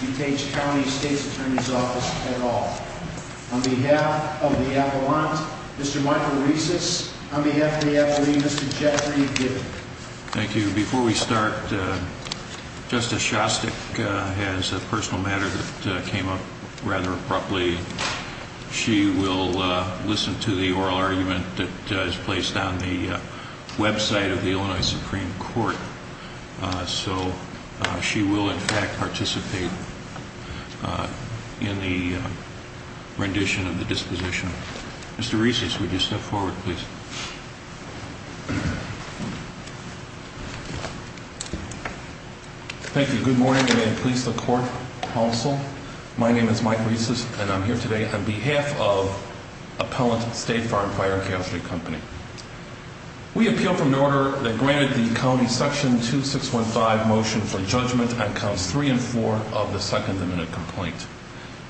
DuPage County State's Attorney's Office at all. On behalf of the Appellant, Mr. Michael Rieses, on behalf of the Appellee, Mr. Jeffrey Gifford. Thank you. Before we start, Justice Shostak has a personal matter that came up rather recently, and I will listen to the oral argument that is placed on the website of the Illinois Supreme Court. So she will, in fact, participate in the rendition of the disposition. Mr. Rieses, would you step forward, please? Thank you. Good morning, and may it please the Court, Counsel. My name is Mike Rieses, and I'm here today on behalf of Appellant State Farm Fire and Chaos Street Company. We appeal for an order that granted the County Section 2615 motion for judgment on counts 3 and 4 of the Second Amendment complaint.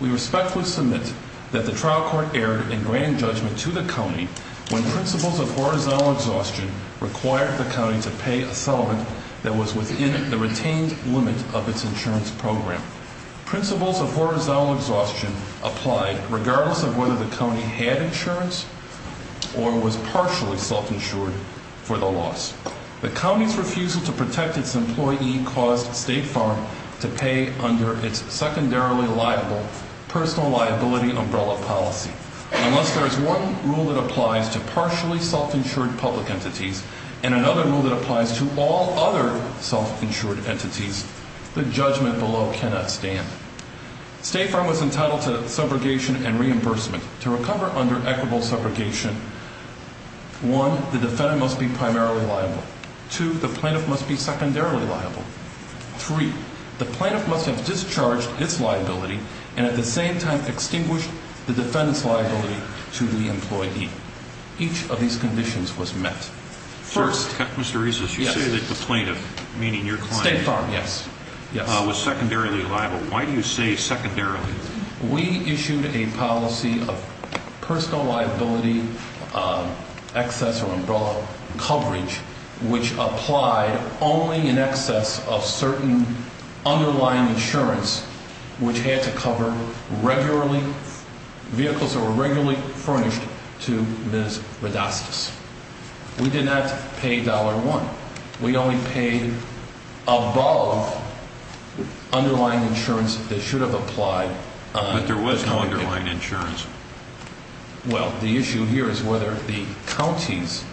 We respectfully submit that the trial court erred in granting judgment to the County when principles of horizontal exhaustion required the County to pay a settlement that was within the retained limit of its insurance program. Principles of horizontal exhaustion applied regardless of whether the County had insurance or was partially self-insured for the loss. The County's refusal to protect its employee caused State Farm to pay under its secondarily liable personal liability umbrella policy. Unless there is one rule that applies to partially self-insured entities, the judgment below cannot stand. State Farm was entitled to subrogation and reimbursement. To recover under equitable subrogation, one, the defendant must be primarily liable. Two, the plaintiff must be secondarily liable. Three, the plaintiff must have discharged its liability and at the same time extinguished the defendant's liability to the employee. Each of these conditions was met. First... Mr. Rezus, you say that the plaintiff, meaning your client... State Farm, yes. ...was secondarily liable. Why do you say secondarily? We issued a policy of personal liability excess or umbrella coverage, which applied only in excess of certain underlying insurance, which had to cover regularly vehicles that were regularly furnished to Ms. Rodastus. We did not pay $1. We only paid above underlying insurance that should have applied... But there was no underlying insurance. Well, the issue here is whether the County's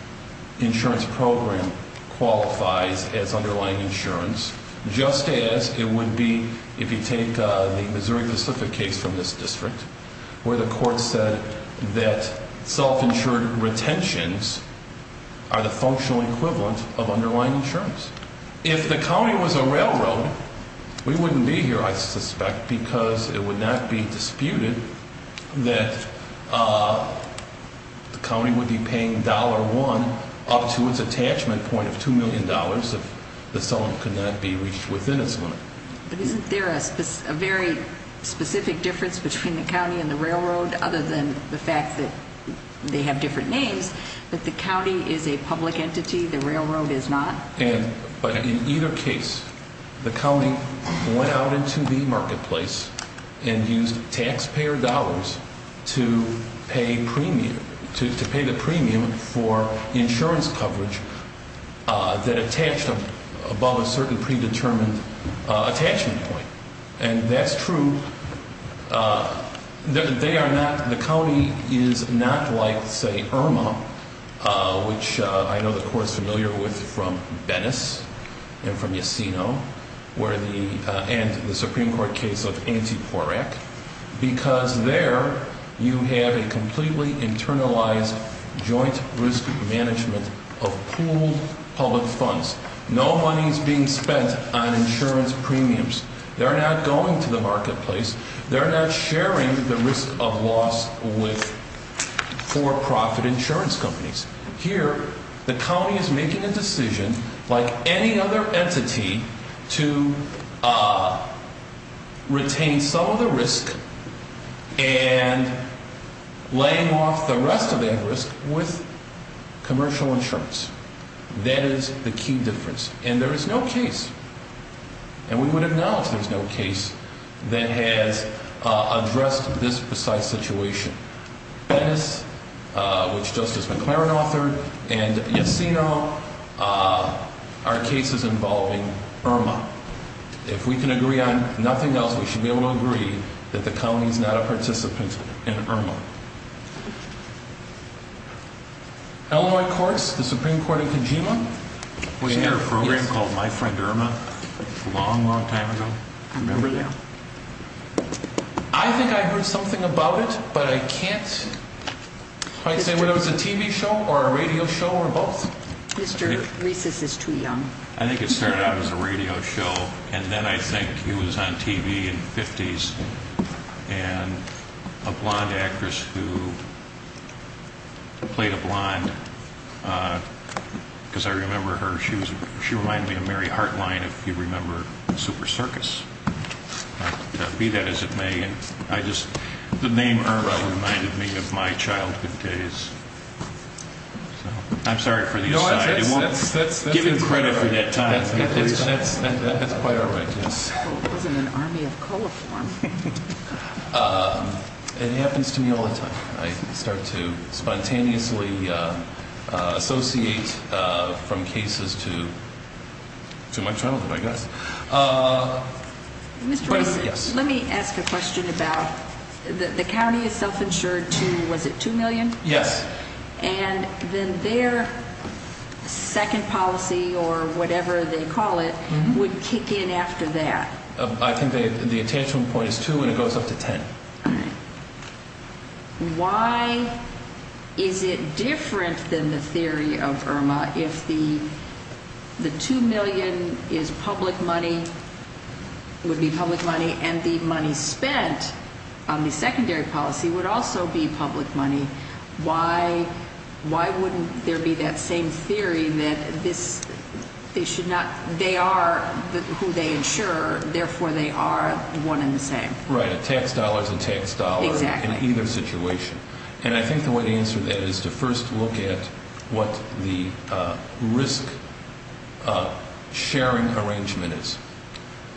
insurance program qualifies as underlying insurance, just as it would be if you take the Missouri-Pacific case from this district, where the court said that self-insured retentions are the functional equivalent of underlying insurance. If the County was a railroad, we wouldn't be here, I suspect, because it would not be disputed that the County would be paying $1 up to its attachment point of $2 million if the settlement could not be reached within its limit. But isn't there a very specific difference between the County and the railroad, other than the fact that they have different names, that the County is a public entity, the railroad is not? But in either case, the County went out into the marketplace and used taxpayer dollars to pay premium, to pay the premium for insurance coverage that attached above a certain predetermined attachment point. And that's true. They are not, the County is not like, say, Irma, which I know the Court is familiar with from Bennis and from Yesenio, and the Supreme Court case of Antiporac, because there you have a completely internalized joint risk management of pooled public funds. No money is being spent on insurance premiums. They're not going to the marketplace. They're not sharing the risk of loss with for-profit insurance companies. Here, the County is making a decision, like any other entity, to retain some of the risk and laying off the rest of that risk with commercial insurance. That is the key difference. And there is no case, and we would acknowledge there is no case, that has addressed this precise situation. Bennis, which Justice McLaren authored, and Yesenio are cases involving the County, and the County is not a participant in Irma. If we can agree on nothing else, we should be able to agree that the County is not a participant in Irma. Illinois courts, the Supreme Court in Kojima, we had a program called My Friend Irma a long, long time ago. I remember that. I think I heard something about it, but I can't quite say whether it was a radio show, and then I think it was on TV in the 50s, and a blonde actress who played a blonde, because I remember her. She reminded me of Mary Hartline, if you remember Super Circus. Be that as it may, the name Irma reminded me of my childhood days. I'm sorry for the time. It happens to me all the time. I start to spontaneously associate from cases to my childhood, I guess. Mr. Reese, let me ask a question about the County is self-insured to, was it 2 million? Yes. And then their second policy, or whatever they call it, would kick in after that? I think the attention point is 2, and it goes up to 10. Why is it different than the theory of Irma if the 2 million is public money, would be public money, and the money spent on the secondary policy would also be public money? Why wouldn't there be that same theory that they are who they insure, therefore they are one and the same? Right, tax dollars and tax dollars in either situation. And I think the way to answer that is to first look at what the risk sharing arrangement is.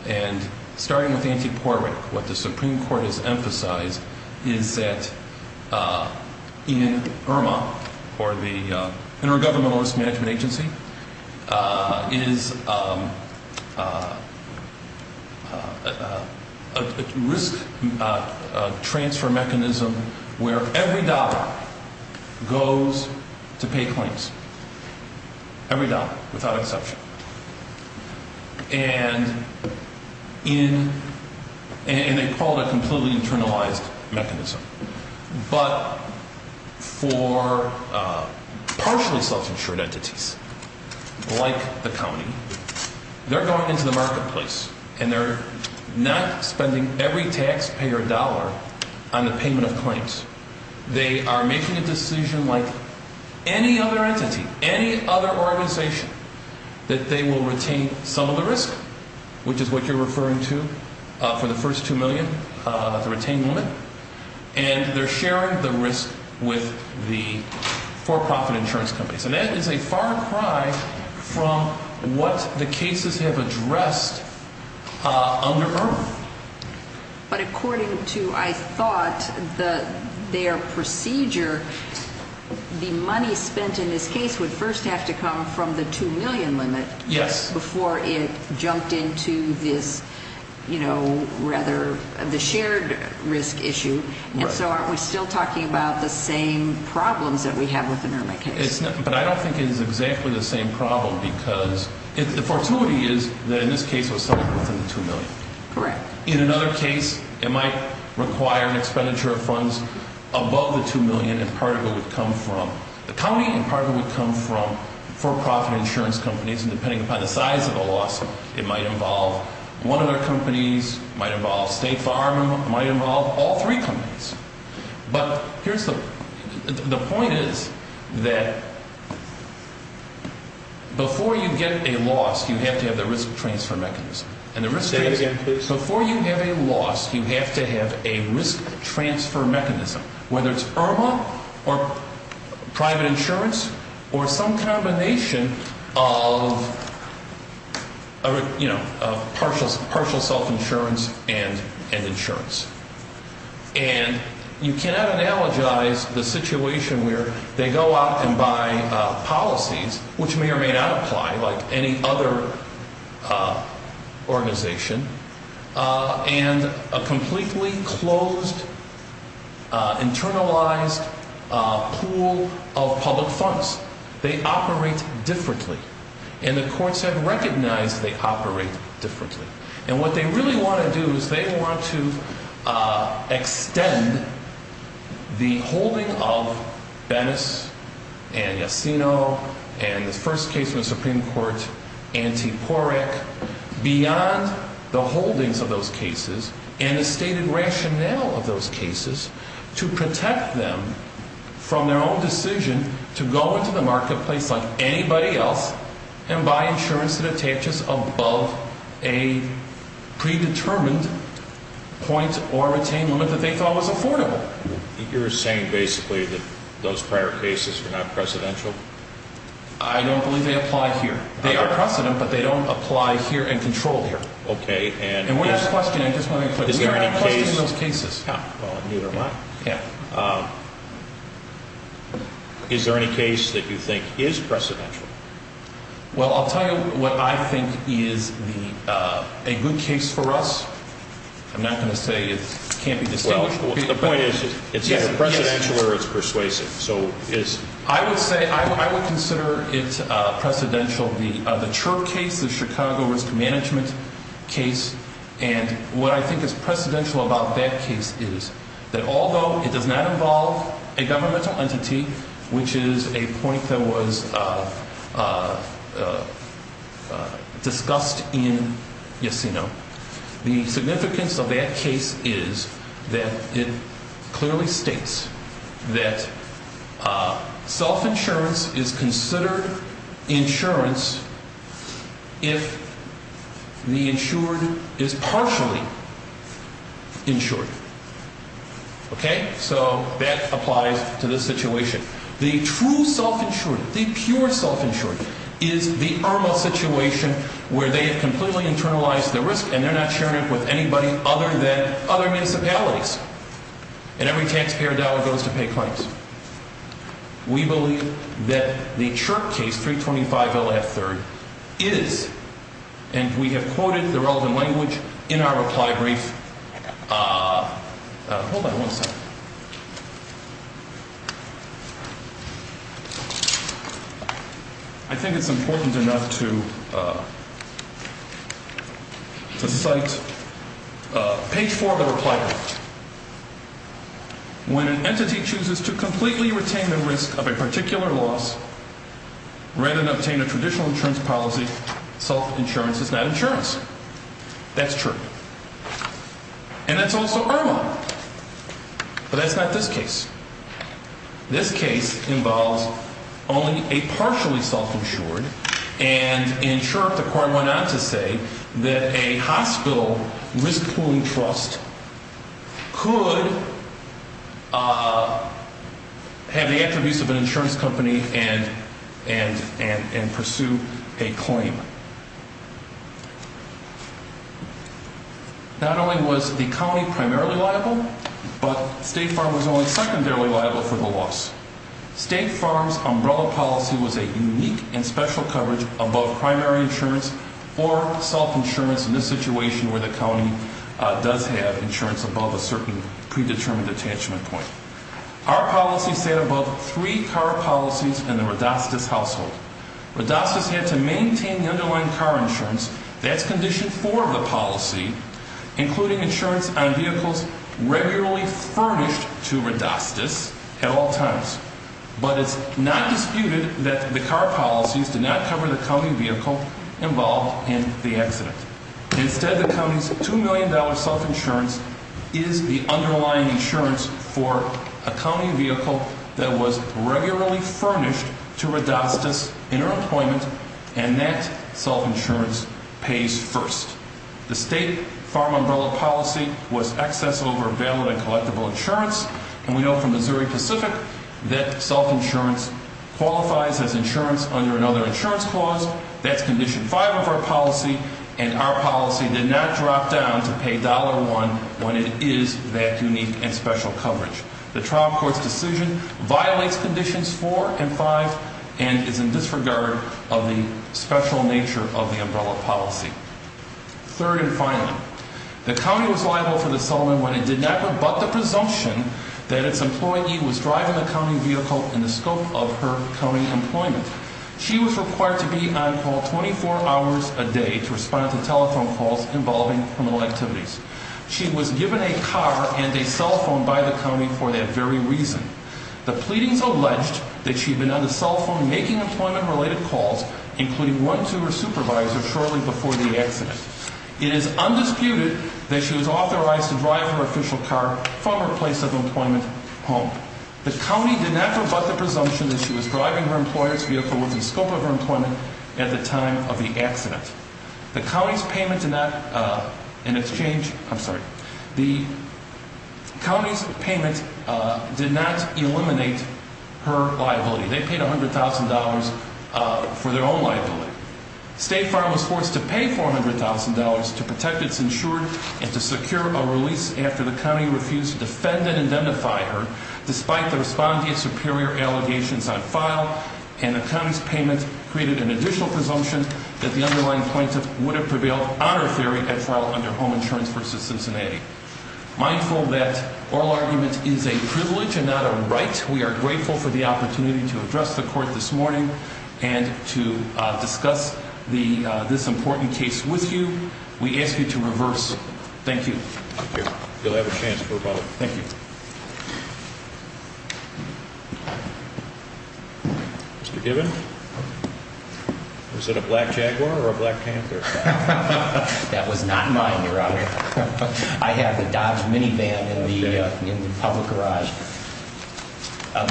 And starting with Auntie Porrick, what the Supreme Court has emphasized is that in Irma, or the Intergovernmental Risk Management Agency, is a risk transfer mechanism where every dollar goes to pay claims. Every dollar, without exception. And they call it a completely internalized mechanism. But for partially self-insured entities, like the county, they're going into the marketplace, and they're not spending every taxpayer dollar on the payment of claims. They are making a decision like any other entity, any other organization, that they will retain some of the risk, which is what you're referring to for the first 2 million, the retained limit. And they're sharing the risk with the for-profit insurance companies. And that is a far cry from what the cases have addressed under Irma. But according to, I thought, their procedure, the money spent in this case would first have to come from the 2 million limit before it jumped into this, you know, rather, the shared risk issue. And so aren't we still talking about the same problems that we have with the Irma case? But I don't think it is exactly the same problem, because the fortuity is that in this case it was somewhere within the 2 million. Correct. In another case, it might require an expenditure of funds above the 2 million, and part of it would come from the county, and part of it would come from for-profit insurance companies. And depending upon the size of the loss, it might involve one of their companies, it might involve State Farm, it might involve all three companies. But the point is that before you get a loss, you have to have the risk transfer mechanism. Say it again, please. Before you have a loss, you have to have a risk transfer mechanism, whether it's Irma or private insurance or some combination of, you know, partial self-insurance and insurance. And you cannot analogize the situation where they go out and buy policies, which may or may not apply, like any other organization, and a completely closed, internalized pool of public funds. They operate differently. And the courts have recognized they operate differently. And what they really want to do is they want to extend the holding of and the first case in the Supreme Court, anti-POREC, beyond the holdings of those cases and the stated rationale of those cases to protect them from their own decision to go into the marketplace like anybody else and buy insurance that attaches above a predetermined point or retained limit that they thought was affordable. You're saying basically that those prior cases are not precedential? I don't believe they apply here. They are precedent, but they don't apply here and control here. Okay. And we're not questioning those cases. Well, neither am I. Is there any case that you think is precedential? Well, I'll tell you what I think is a good case for us. I'm not going to say it can't be because it's persuasive. I would say I would consider it precedential. The CHIRP case, the Chicago Risk Management case, and what I think is precedential about that case is that although it does not involve a governmental entity, which is a point that was discussed in Yesenia, the significance of that case is that it clearly states that self-insurance is considered insurance if the insured is partially insured. Okay? So that applies to this situation. The true self-insured, the pure self-insured is the arm of a situation where they have completely internalized the risk and they're not sharing it with anybody other than other municipalities. And every taxpayer dollar goes to pay claims. We believe that the CHIRP case, is, and we have quoted the relevant language in our reply brief. Hold on one second. I think it's important enough to cite page four of the reply brief. When an entity chooses to completely retain the risk of a particular loss rather than obtain a traditional insurance policy, self-insurance is not insurance. That's true. And that's also IRMA. But that's not this case. This case involves only a partially self-insured and in CHIRP the court went on to say that a insurance company and pursue a claim. Not only was the county primarily liable, but State Farm was only secondarily liable for the loss. State Farm's umbrella policy was a unique and special coverage above primary insurance or self-insurance in this situation where the county does have a certain predetermined attachment point. Our policy sat above three car policies in the Rodastus household. Rodastus had to maintain the underlying car insurance. That's condition four of the policy, including insurance on vehicles regularly furnished to Rodastus at all times. But it's not disputed that the car policies did not cover the county vehicle involved in the accident. Instead, the county's $2 million self-insurance is the underlying insurance for a county vehicle that was regularly furnished to Rodastus in her employment, and that self-insurance pays first. The State Farm umbrella policy was excess over valid and collectible insurance, and we know from Missouri Pacific that self-insurance qualifies as insurance under another insurance clause. That's condition five of our policy, and our policy did not drop down to pay $1 when it is that unique and special coverage. The trial court's decision violates conditions four and five and is in disregard of the special nature of the umbrella policy. Third and finally, the county was liable for the settlement when it did not rebut the presumption that its employee was driving the county vehicle in the scope of her county employment. She was required to be on call 24 hours a day to respond to telephone calls involving criminal activities. She was given a car and a cell phone by the county for that very reason. The pleadings alleged that she had been on the cell phone making employment-related calls, including one to her supervisor shortly before the accident. It is undisputed that she was driving her employer's vehicle within scope of her employment at the time of the accident. The county's payment did not eliminate her liability. They paid $100,000 for their own liability. State Farm was forced to pay $400,000 to protect its insured and to secure a release after the county refused to defend and identify her despite the respondeant's superior allegations on file and the county's payment created an additional presumption that the underlying plaintiff would have prevailed on her theory at trial under Home Insurance v. Cincinnati. Mindful that oral argument is a privilege and not a right. We are grateful for the opportunity to address the court this morning and to discuss this important case with you. We ask you to reverse. Thank you. You'll have a chance. Thank you. Mr. Given. Was it a black jaguar or a black panther? That was not mine, Your Honor. I have the Dodge minivan in the public garage.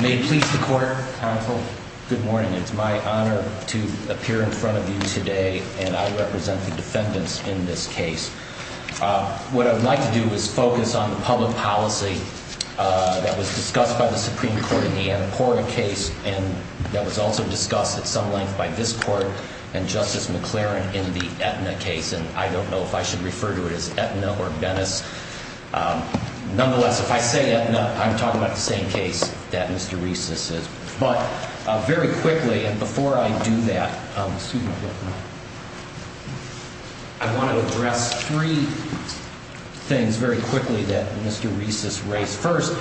May it please the court, counsel. Good morning. It's my honor to appear in front of you today and I represent the District Attorney's Office. I'm here to discuss the public policy in this case. What I'd like to do is focus on the public policy that was discussed by the Supreme Court in the Annapurna case, and that was also discussed at some length by this court and Justice McLaren in the Aetna case. And I don't know if I should refer to it as Aetna or Venice. Nonetheless, if I say Aetna, I'm talking about the same case that Mr. Reese's is. But very quickly and before I do that, excuse me, I want to address three things very quickly that Mr. Reese's race. First,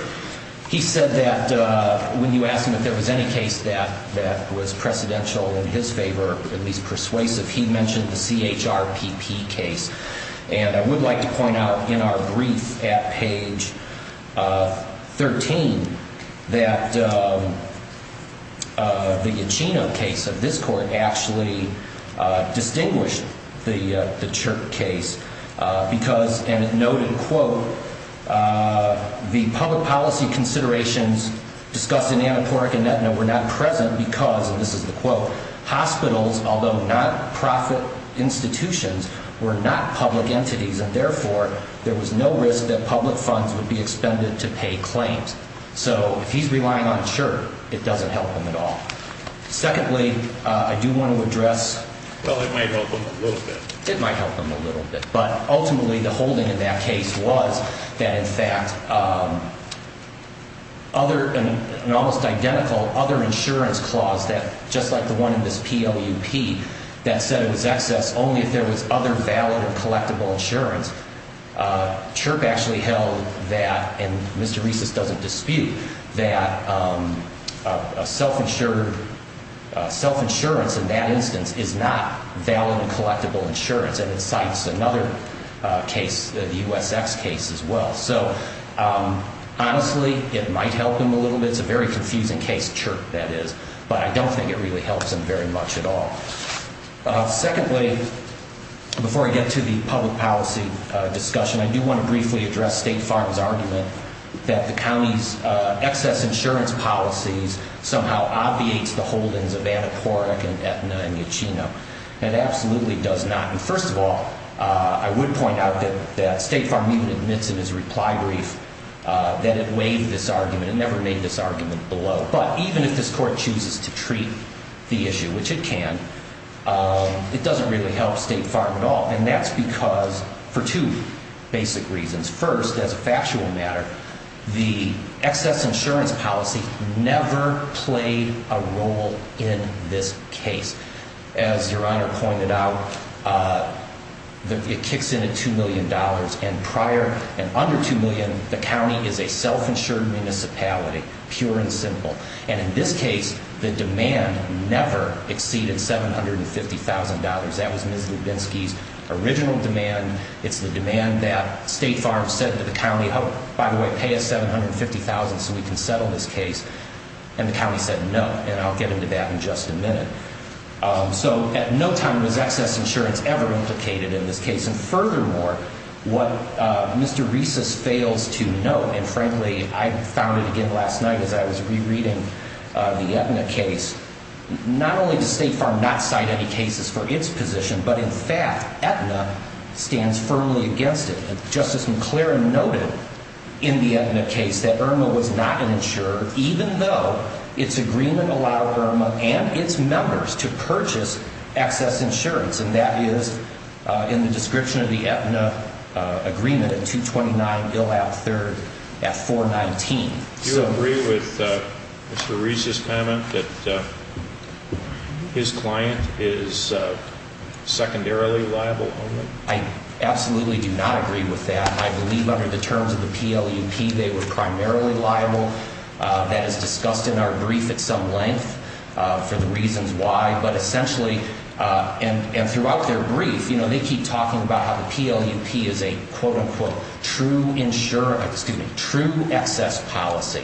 he said that when you ask him if there was any case that that was precedential in his favor, at least persuasive, he mentioned the CHRPP case. And I would like to point out in our brief at page 13 that the Uchino case of this court actually distinguished the CHRPP case because, and it noted, quote, the public policy considerations discussed in Annapurna and Aetna were not present because, and this is the quote, hospitals, although not profit institutions, were not public entities, and therefore, there was no risk that public funds would be expended to pay claims. So if he's relying on CHRPP, it doesn't help him at all. Secondly, I do want to address Well, it might help him a little bit. It might help him a little bit. But ultimately, the holding in that case was that, in fact, there was an almost identical other insurance clause that, just like the one in this PWP, that said it was excess only if there was other valid and collectible insurance. CHRPP actually held that, and Mr. Reese's doesn't dispute, that a self-insured self-insurance in that instance is not valid and collectible insurance, and it cites another case, the USX case as well. So, honestly, it might help him a little bit. It's a very confusing case, CHRPP, that is. But I don't think it really helps him very much at all. Secondly, before I get to the public policy discussion, I do want to briefly address State Farm's argument that the county's excess insurance policies somehow obviates the holdings of Annapurna and Aetna and Uchino. It absolutely does not. And first of all, I would point out that State Farm even admits in his reply brief that it waived this argument. It never made this argument below. But even if this Court chooses to treat the issue, which it can, it doesn't really help State Farm at all. And that's because, for two basic reasons. First, as a factual matter, the excess insurance policy never played a role in this case. As Your Honor pointed out, the it kicks in at $2 million. And prior, and under $2 million, the county is a self-insured municipality, pure and simple. And in this case, the demand never exceeded $750,000. That was Ms. Lubinsky's original demand. It's the demand that State Farm said to the county, oh, by the way, pay us $750,000 so we can settle this case. And the county said no. And I'll get into that in just a minute. So at no time was excess insurance ever implicated in this case. And furthermore, what Mr. Resus fails to note, and frankly, I found it again last night as I was rereading the Aetna case, not only does State Farm not cite any cases for its position, but in fact, Aetna stands firmly against it. And Justice McClaren noted in the Aetna case that Irma was not an insurer, even though its agreement allowed Irma and its members to purchase excess insurance. And that is in the description of the Aetna agreement at 229 Gillap 3rd at 419. Do you agree with Mr. Resus's comment that his client is secondarily liable? I absolutely do not agree with that. I believe under the terms of the PLUP, they were primarily liable. That is discussed in our brief at some length for the reasons why. But essentially, and throughout their brief, they keep talking about how the PLUP is a quote-unquote true excess policy.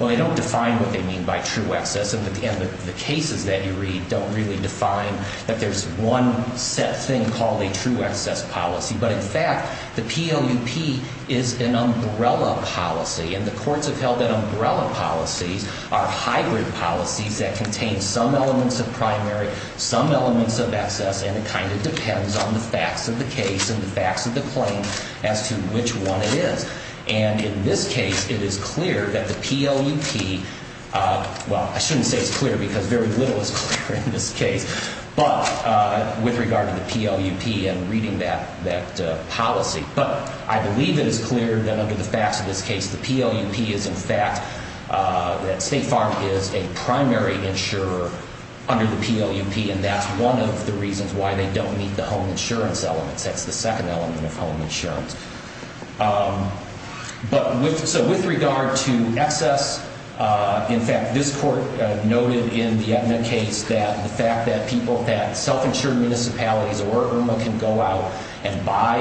Well, they don't define what they mean by true excess. And the cases that you read don't really define that there's one set thing called a true excess policy. But in fact, the PLUP is an umbrella policy. And the courts have held that it's a set of hybrid policies that contain some elements of primary, some elements of excess, and it kind of depends on the facts of the case and the facts of the claim as to which one it is. And in this case, it is clear that the PLUP, well, I shouldn't say it's clear because very little is clear in this case, but with regard to the PLUP and reading that policy. But I believe it is clear that under the facts of this case, the PLUP is in fact, that State Farm is a primary insurer under the PLUP. And that's one of the reasons why they don't meet the home insurance elements. That's the second element of home insurance. But so with regard to excess, in fact, this court noted in the Edna case that the fact that people, that self-insured municipalities or Irma can go out and buy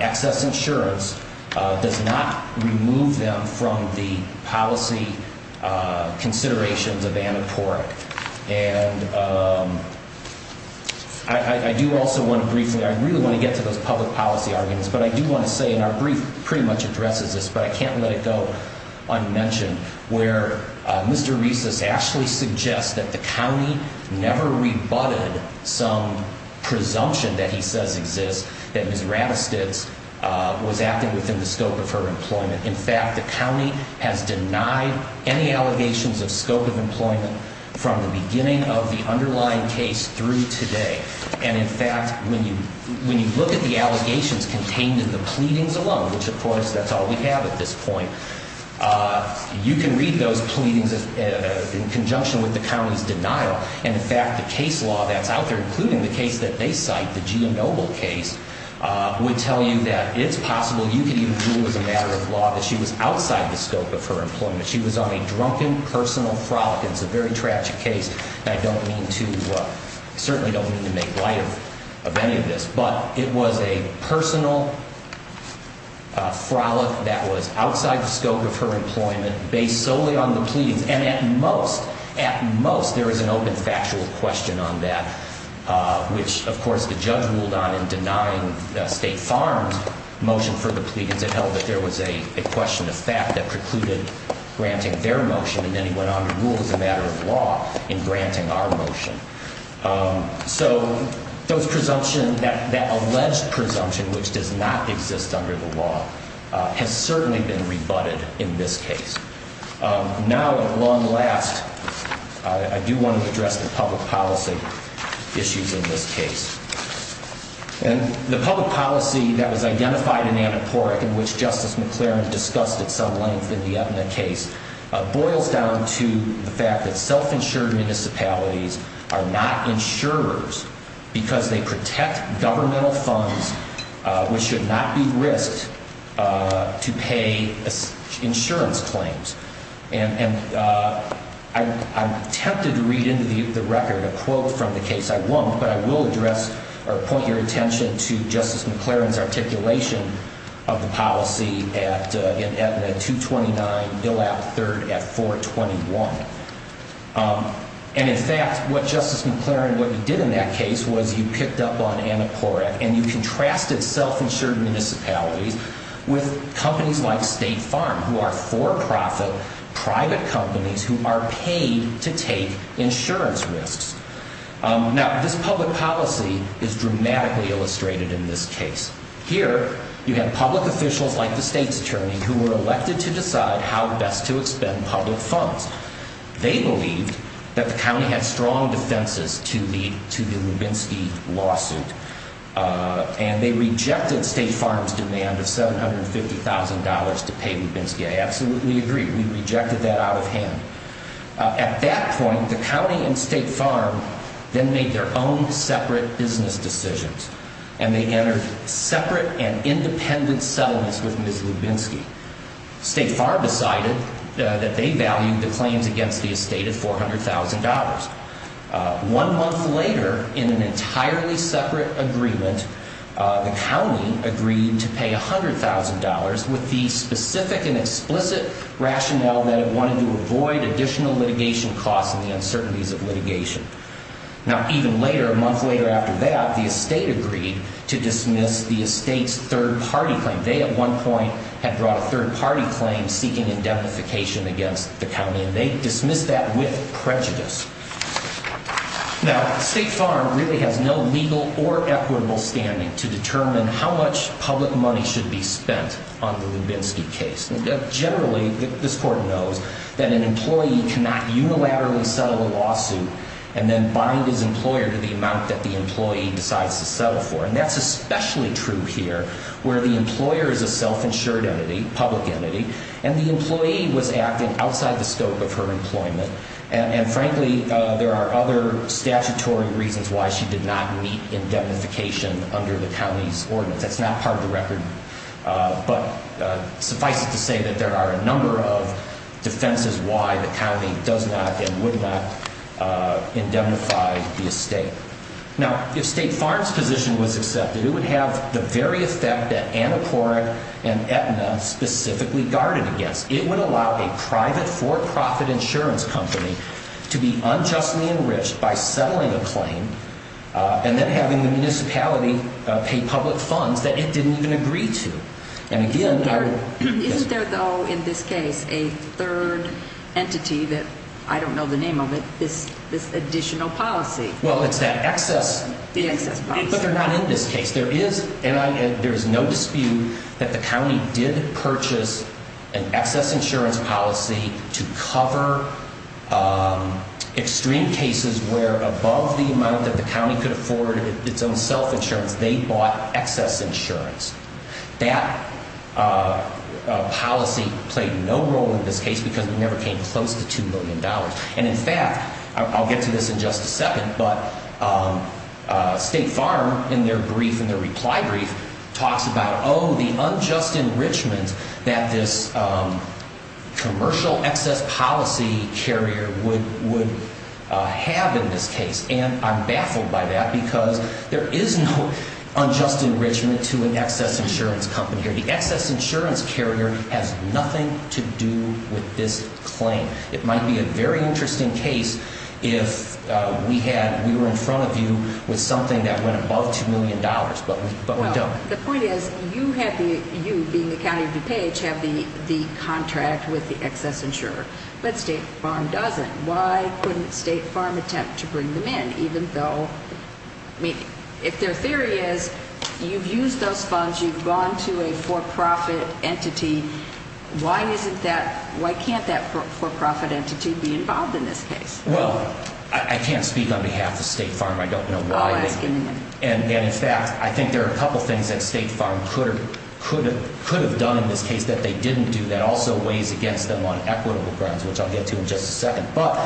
excess insurance does not remove them from the policy considerations of Annapurna. And I do also want to briefly, I really want to get to those public policy arguments, but I do want to say in our brief, pretty much addresses this, but I can't let it go unmentioned where Mr. Reese's actually suggests that the county never rebutted some presumption that he says exists, that Ms. Rattlesnake's was at the time within the scope of her employment. In fact, the county has denied any allegations of scope of employment from the beginning of the underlying case through today. And in fact, when you look at the allegations contained in the pleadings alone, which of course, that's all we have at this point, you can read those pleadings in conjunction with the county's denial. And in fact, the case law that's out there, including the case that they cite, the Gia Noble case, would tell you that it's possible you could even do as a matter of law that she was outside the scope of her employment. She was on a drunken personal frolic. It's a very tragic case. I don't mean to, I certainly don't mean to make light of any of this, but it was a personal frolic that was outside the scope of her employment based solely on the pleadings alone, which of course the judge ruled on in denying the state farms motion for the pleadings, it held that there was a question of fact that precluded granting their motion. And then he went on to rule as a matter of law in granting our motion. So those presumption that she was outside the scope of her employment is a very, very important issue in this case. And the public policy that was identified in Annapurna in which Justice McClaren discussed at some length in the case boils down to the fact that self-insured municipalities are not insurers because they protect governmental funds, which should not be risked to pay insurance claims. And I'm tempted to read into the record a little bit more about that. I won't, but I will address or point your attention to Justice McClaren's articulation of the policy at the 229 Bill Ave. 3rd at 421. And in fact, what Justice McClaren, what you did in that case was you picked up on Annapurna and you contrasted self-insured municipalities with companies like State Farm who are for-profit private companies who are paid to take insurance risks. Now, the public policy is dramatically illustrated in this case. Here, you have public officials like the state's attorney who were elected to decide how best to expend public funds. They believed that the county had strong defenses to the Lubinsky lawsuit, and they rejected State Farm's demand of $750,000 to pay Lubinsky. I absolutely agree. We rejected that out of hand. At that point, the county and State Farm then made their own separate business decisions, and they entered separate and independent settlements with Ms. Lubinsky. State Farm decided that they valued the claims against the estate at $400,000. One month later, in an entirely separate agreement, the county agreed to pay $100,000 with the specific and explicit rationale that it wanted to avoid additional litigation costs and the uncertainties of litigation. Now, even later, State Farm agreed to dismiss the estate's third-party claim. They, at one point, had brought a third-party claim seeking indemnification against the county, and they dismissed that with prejudice. Now, State Farm really has no legal or equitable standing to determine how much public money should be spent on the Lubinsky case. Generally, this court knows that an employee cannot unilaterally settle a lawsuit and then bind his employer to the amount of money that the employee decides to settle for. And that's especially true here, where the employer is a self-insured public entity, and the employee was acting outside the scope of her employment. And frankly, there are other statutory reasons why she did not meet indemnification under the county's ordinance. That's not part of the record. But suffice it to say that there are a number of defenses why the county does not and would not indemnify the employee. Now, if State Farm's position was accepted, it would have the very effect that Anacora and Aetna specifically guarded against. It would allow a private for-profit insurance company to be unjustly enriched by settling a claim and then having the municipality pay public funds that it didn't even agree to. And again, I would... Isn't there, though, in this case, a third entity that, I don't know the name of it, this additional policy? Well, it's that excess, but they're not in this case. There is, and there is no dispute that the county did purchase an excess insurance policy to cover extreme cases where above the amount that the county could afford its own self-insurance, they bought excess insurance. That policy played no role in this case because it never came close to $2 million. And in fact, I'll get to this in just a second, but State Farm, in their brief, in their reply brief, talks about, oh, the unjust enrichment that this commercial excess policy carrier would have in this case. And I'm baffled by that because there is no unjust enrichment to an excess insurance carrier has nothing to do with this claim. It might be a very interesting case if we had, we were in front of you with something that went above $2 million, but we don't. Well, the point is, you have the, you being the county of DuPage, have the contract with the excess insurer, but State Farm doesn't. Why couldn't State Farm attempt to bring them in, even though... I mean, if their theory is, you've used those funds, you've gone to a for-profit entity, why isn't that, why can't that for-profit entity be involved in this case? Well, I can't speak on behalf of State Farm. I don't know why. I'll ask in a minute. And in fact, I think there are a couple things that State Farm could have done in this case that they didn't do that also weighs against them on equitable grounds, which I'll get to in just a second. But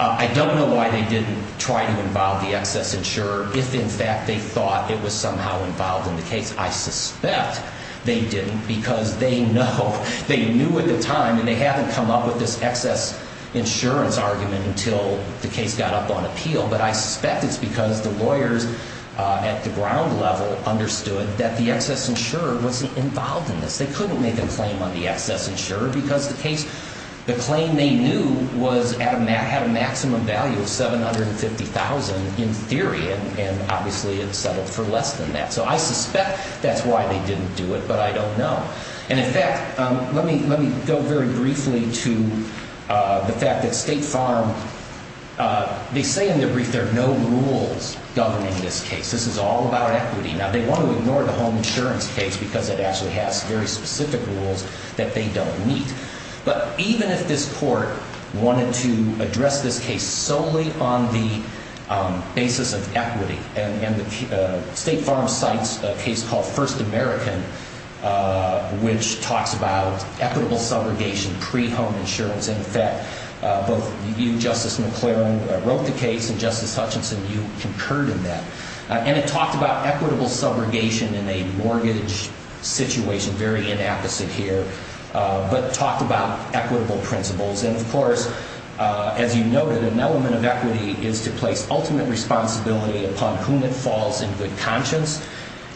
I don't know why they didn't try to involve the excess insurer if, in fact, they thought it was somehow involved in the case. I suspect they didn't, because they know, they knew at the time, and they haven't come up with this excess insurance argument until the case got up on appeal, but I suspect it's because the lawyers at the ground level understood that the excess insurer wasn't involved in this. They couldn't make a claim on the excess insurer, because the case, the claim they knew had a maximum value of $750,000 in theory, and obviously it settled for less than that. So I suspect that's why they didn't do it, but I don't know. And in fact, let me go very briefly to the fact that State Farm, they say in their brief there are no rules governing this case. This is all about equity. Now, they want to ignore the home insurance case, because it actually has very specific rules that they don't meet. But even if this court wanted to address this case solely on the basis of equity and the State Farm side of the case, they wouldn't be able to do that, because the State Farm side of the case is a case called First American, which talks about equitable subrogation pre-home insurance. In fact, both you, Justice McLaren, wrote the case, and Justice Hutchinson, you concurred in that. And it talked about equitable subrogation in a mortgage situation, very inapposite here, but talked about equitable principles. And of course, as you noted, an element of equity is to place ultimate risk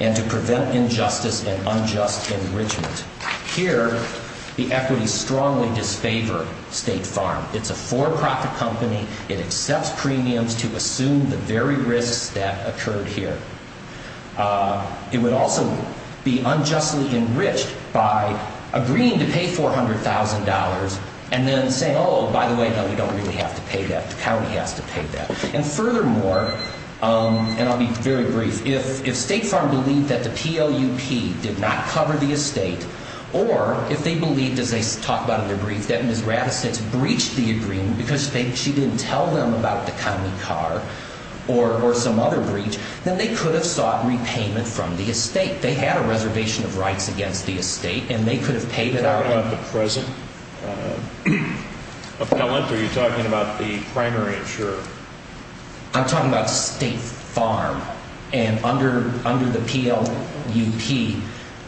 and to prevent injustice and unjust enrichment. Here, the equities strongly disfavor State Farm. It's a for-profit company. It accepts premiums to assume the very risks that occurred here. It would also be unjustly enriched by agreeing to pay $400,000 and then saying, oh, by the way, no, we don't really have to pay $400,000. So if they believed that the PLUP did not cover the estate, or if they believed, as they talk about in their brief, that Ms. Rathastitz breached the agreement because she didn't tell them about the county car or some other breach, then they could have sought repayment from the estate. They had a reservation of rights against the estate, and they could have paid it out. I'm not talking about the present appellant. Are you talking about the primary insurer? I'm talking about State Farm. And under the PLUP,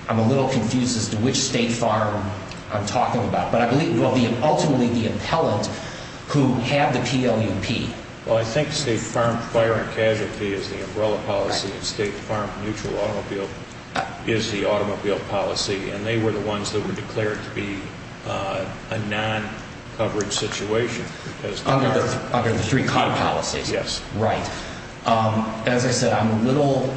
I'm a little confused as to which State Farm I'm talking about. But I believe it will be ultimately the appellant who had the PLUP. Well, I think State Farm Fire and Casualty is the umbrella policy, and State Farm Mutual Automobile is the automobile policy. And they were the ones that were declared to be a non-coverage situation. Under the three cot policies, right. As I said, I'm a little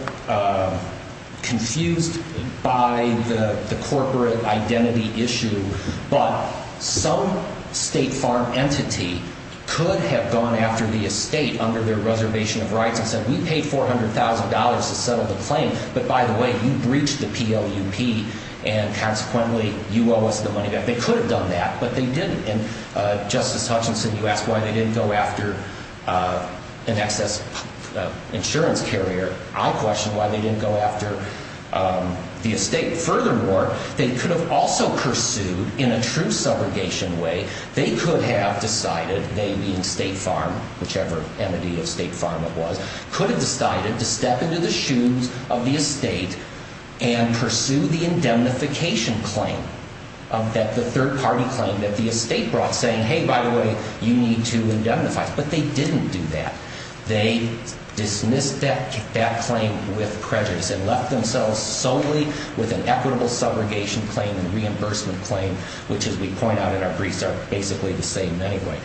confused by the corporate identity issue, but some State Farm entity could have gone after the estate under their reservation of rights and said, we paid $400,000 to settle the claim, but by the way, you breached the PLUP, and consequently, you owe us the money back. They could have done that, but they didn't. And Justice Hutchinson, you asked why they didn't go after an excess insurance carrier. I question why they didn't go after the estate. Furthermore, they could have also pursued, in a true subrogation way, they could have decided, they being State Farm, whichever entity of State Farm it was, could have decided to step into the shoes of the estate and pursue the indemnification claim, that the third-party claim that the estate owner, the estate brought, saying, hey, by the way, you need to indemnify. But they didn't do that. They dismissed that claim with prejudice and left themselves solely with an equitable subrogation claim and reimbursement claim, which as we point out in our briefs, are basically the same anyway.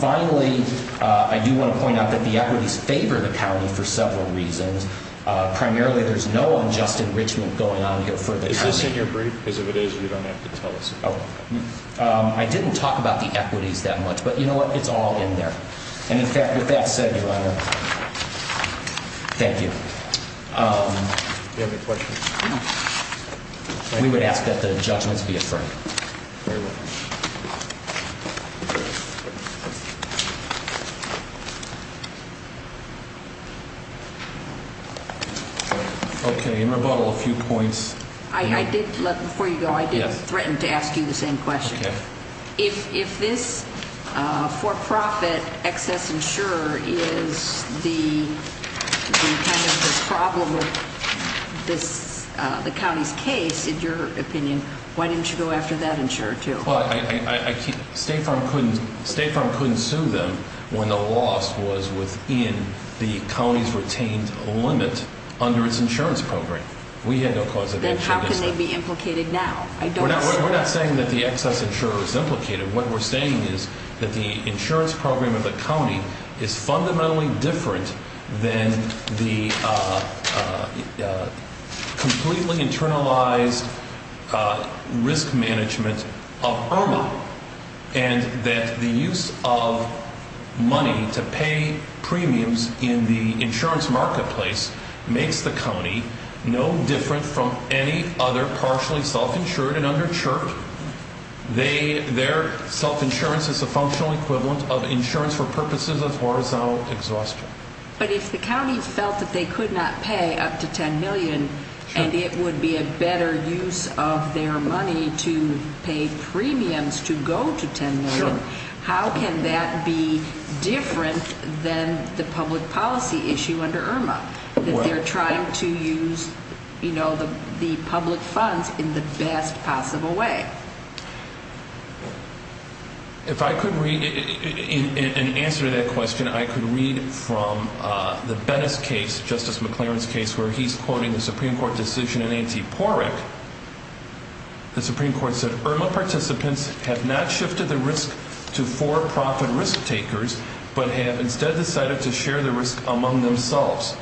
Finally, I do want to point out that the equities favor the county for several reasons. Primarily, there's no unjust enrichment going on here for the county. And the reason I'm saying your brief is if it is, you don't have to tell us. I didn't talk about the equities that much, but you know what? It's all in there. And in fact, with that said, Your Honor, thank you. Do you have any questions? We would ask that the judgments be affirmed. Before you go, I did threaten to ask you the same question. If this for-profit excess insurer is the problem of the county's case, in your opinion, why didn't you go after that insurer too? State Farm couldn't sue them when the loss was within the county's retained limit under its insurance program. Then how can they be implicated now? We're not saying that the excess insurer is implicated. What we're saying is that the insurance program of the county is fundamentally different than the completely internalized risk management of Irma. And that the use of money to pay premiums in the insurance marketplace makes the county no longer the insurer. The county is no different from any other partially self-insured. Their self-insurance is a functional equivalent of insurance for purposes of horizontal exhaustion. But if the county felt that they could not pay up to $10 million and it would be a better use of their money to pay premiums to go to $10 million, how can that be different than the public policy issue under Irma? That they're trying to use the public funds in the best possible way. If I could read an answer to that question, I could read from the Bettis case, Justice McLaren's case, where he's quoting the Supreme Court decision in Antiporic. The Supreme Court said, Irma participants have not shifted the risk to for-profit risk takers, but have instead decided to share the risk among themselves.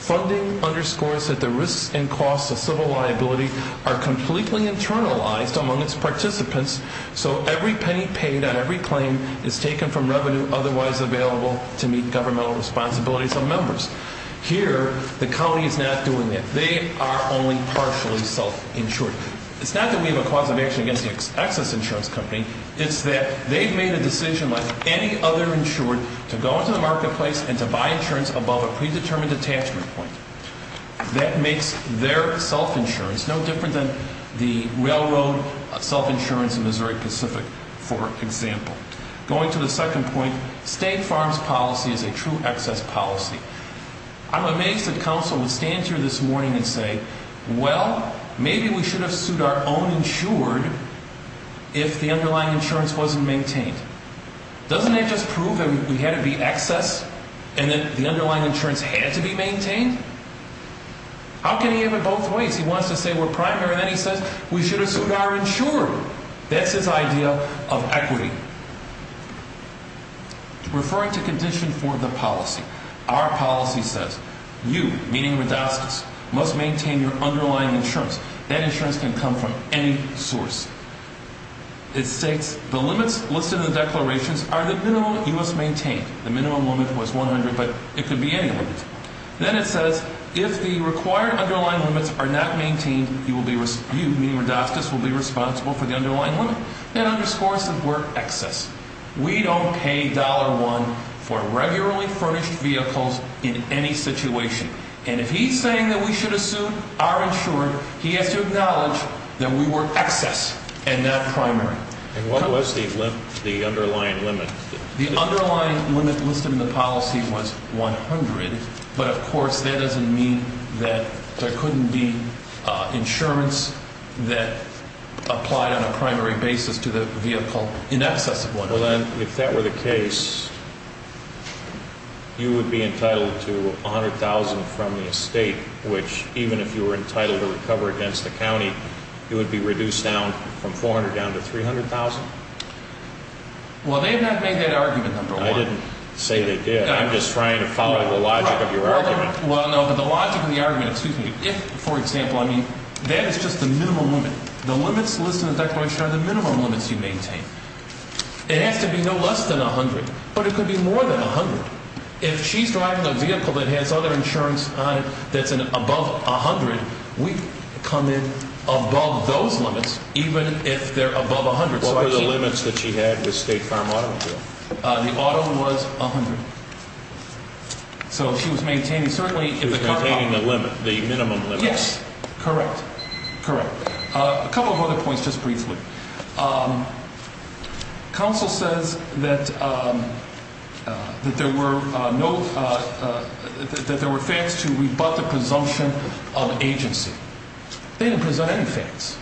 Funding underscores that the risks and costs of civil liability are completely internalized among its participants, so every penny paid on every claim is taken from revenue otherwise available to meet governmental responsibilities of members. Here, the county is not doing that. They are only partially self-insured. It's not that we have a cause of action against the excess insurance company. It's that they've made a decision like any other insured to go into the marketplace and to buy insurance above a predetermined attachment point. That makes their self-insurance no different than the railroad self-insurance in Missouri Pacific, for example. Going to the second point, state farms policy is a true excess policy. I'm amazed that counsel would stand here this morning and say, well, maybe we should have sued our own insured if the underlying insurance wasn't maintained. Doesn't that just prove that we had to be excess and that the underlying insurance had to be maintained? How can he have it both ways? He wants to say we're primary, then he says we should have sued our insured. That's his idea of equity. Referring to condition for the policy, our policy says you, meaning Rodascus, must maintain your underlying insurance. That insurance can come from any source. It states the limits listed in the declarations are the minimum you must maintain. The minimum limit was 100, but it could be any limit. Then it says if the required underlying limits are not maintained, you, meaning Rodascus, will be responsible for the underlying limit. That underscores that we're excess. We don't pay $1 for regularly furnished vehicles in any situation. And if he's saying that we should have sued our insured, he has to acknowledge that we were excess and not primary. And what was the underlying limit? The underlying limit listed in the policy was 100, but of course that doesn't mean that there couldn't be insurance that applied on a primary basis to the vehicle in excess of 100. Well, then, if that were the case, you would be entitled to $100,000 from the estate, which even if you were entitled to recover against the county, it would be reduced down from $400,000 down to $300,000? Well, they've not made that argument, number one. I didn't say they did. I'm just trying to follow the logic of your argument. Well, no, but the logic of the argument, excuse me, if, for example, I mean, that is just the minimum limit. The limits listed in the declaration are the minimum limits you maintain. It has to be no less than 100, but it could be more than 100. If she's driving a vehicle that has other insurance on it that's above 100, we come in above those limits even if they're above 100. What were the limits that she had with State Farm Automobile? The auto was 100. So she was maintaining certainly the minimum limit. Yes, correct, correct. A couple of other points just briefly. Counsel says that there were facts to rebut the presumption of agency. They didn't present any facts.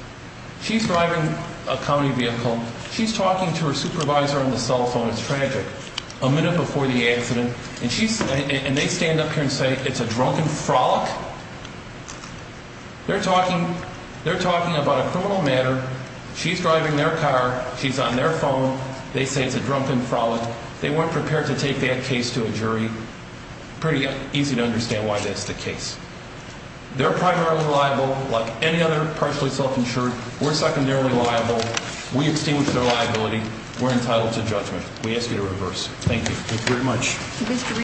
She's driving a county vehicle. She's talking to her supervisor on the cell phone. It's tragic. A minute before the accident, and they stand up here and say it's a drunken frolic? They're talking about a criminal matter. She's driving their car. She's on their phone. They say it's a drunken frolic. They weren't prepared to take that case to a jury. Pretty easy to understand why that's the case. They're primarily liable, like any other partially self-insured. We're secondarily liable. We extinguish their liability. We're entitled to judgment. We ask you to reverse. Thank you.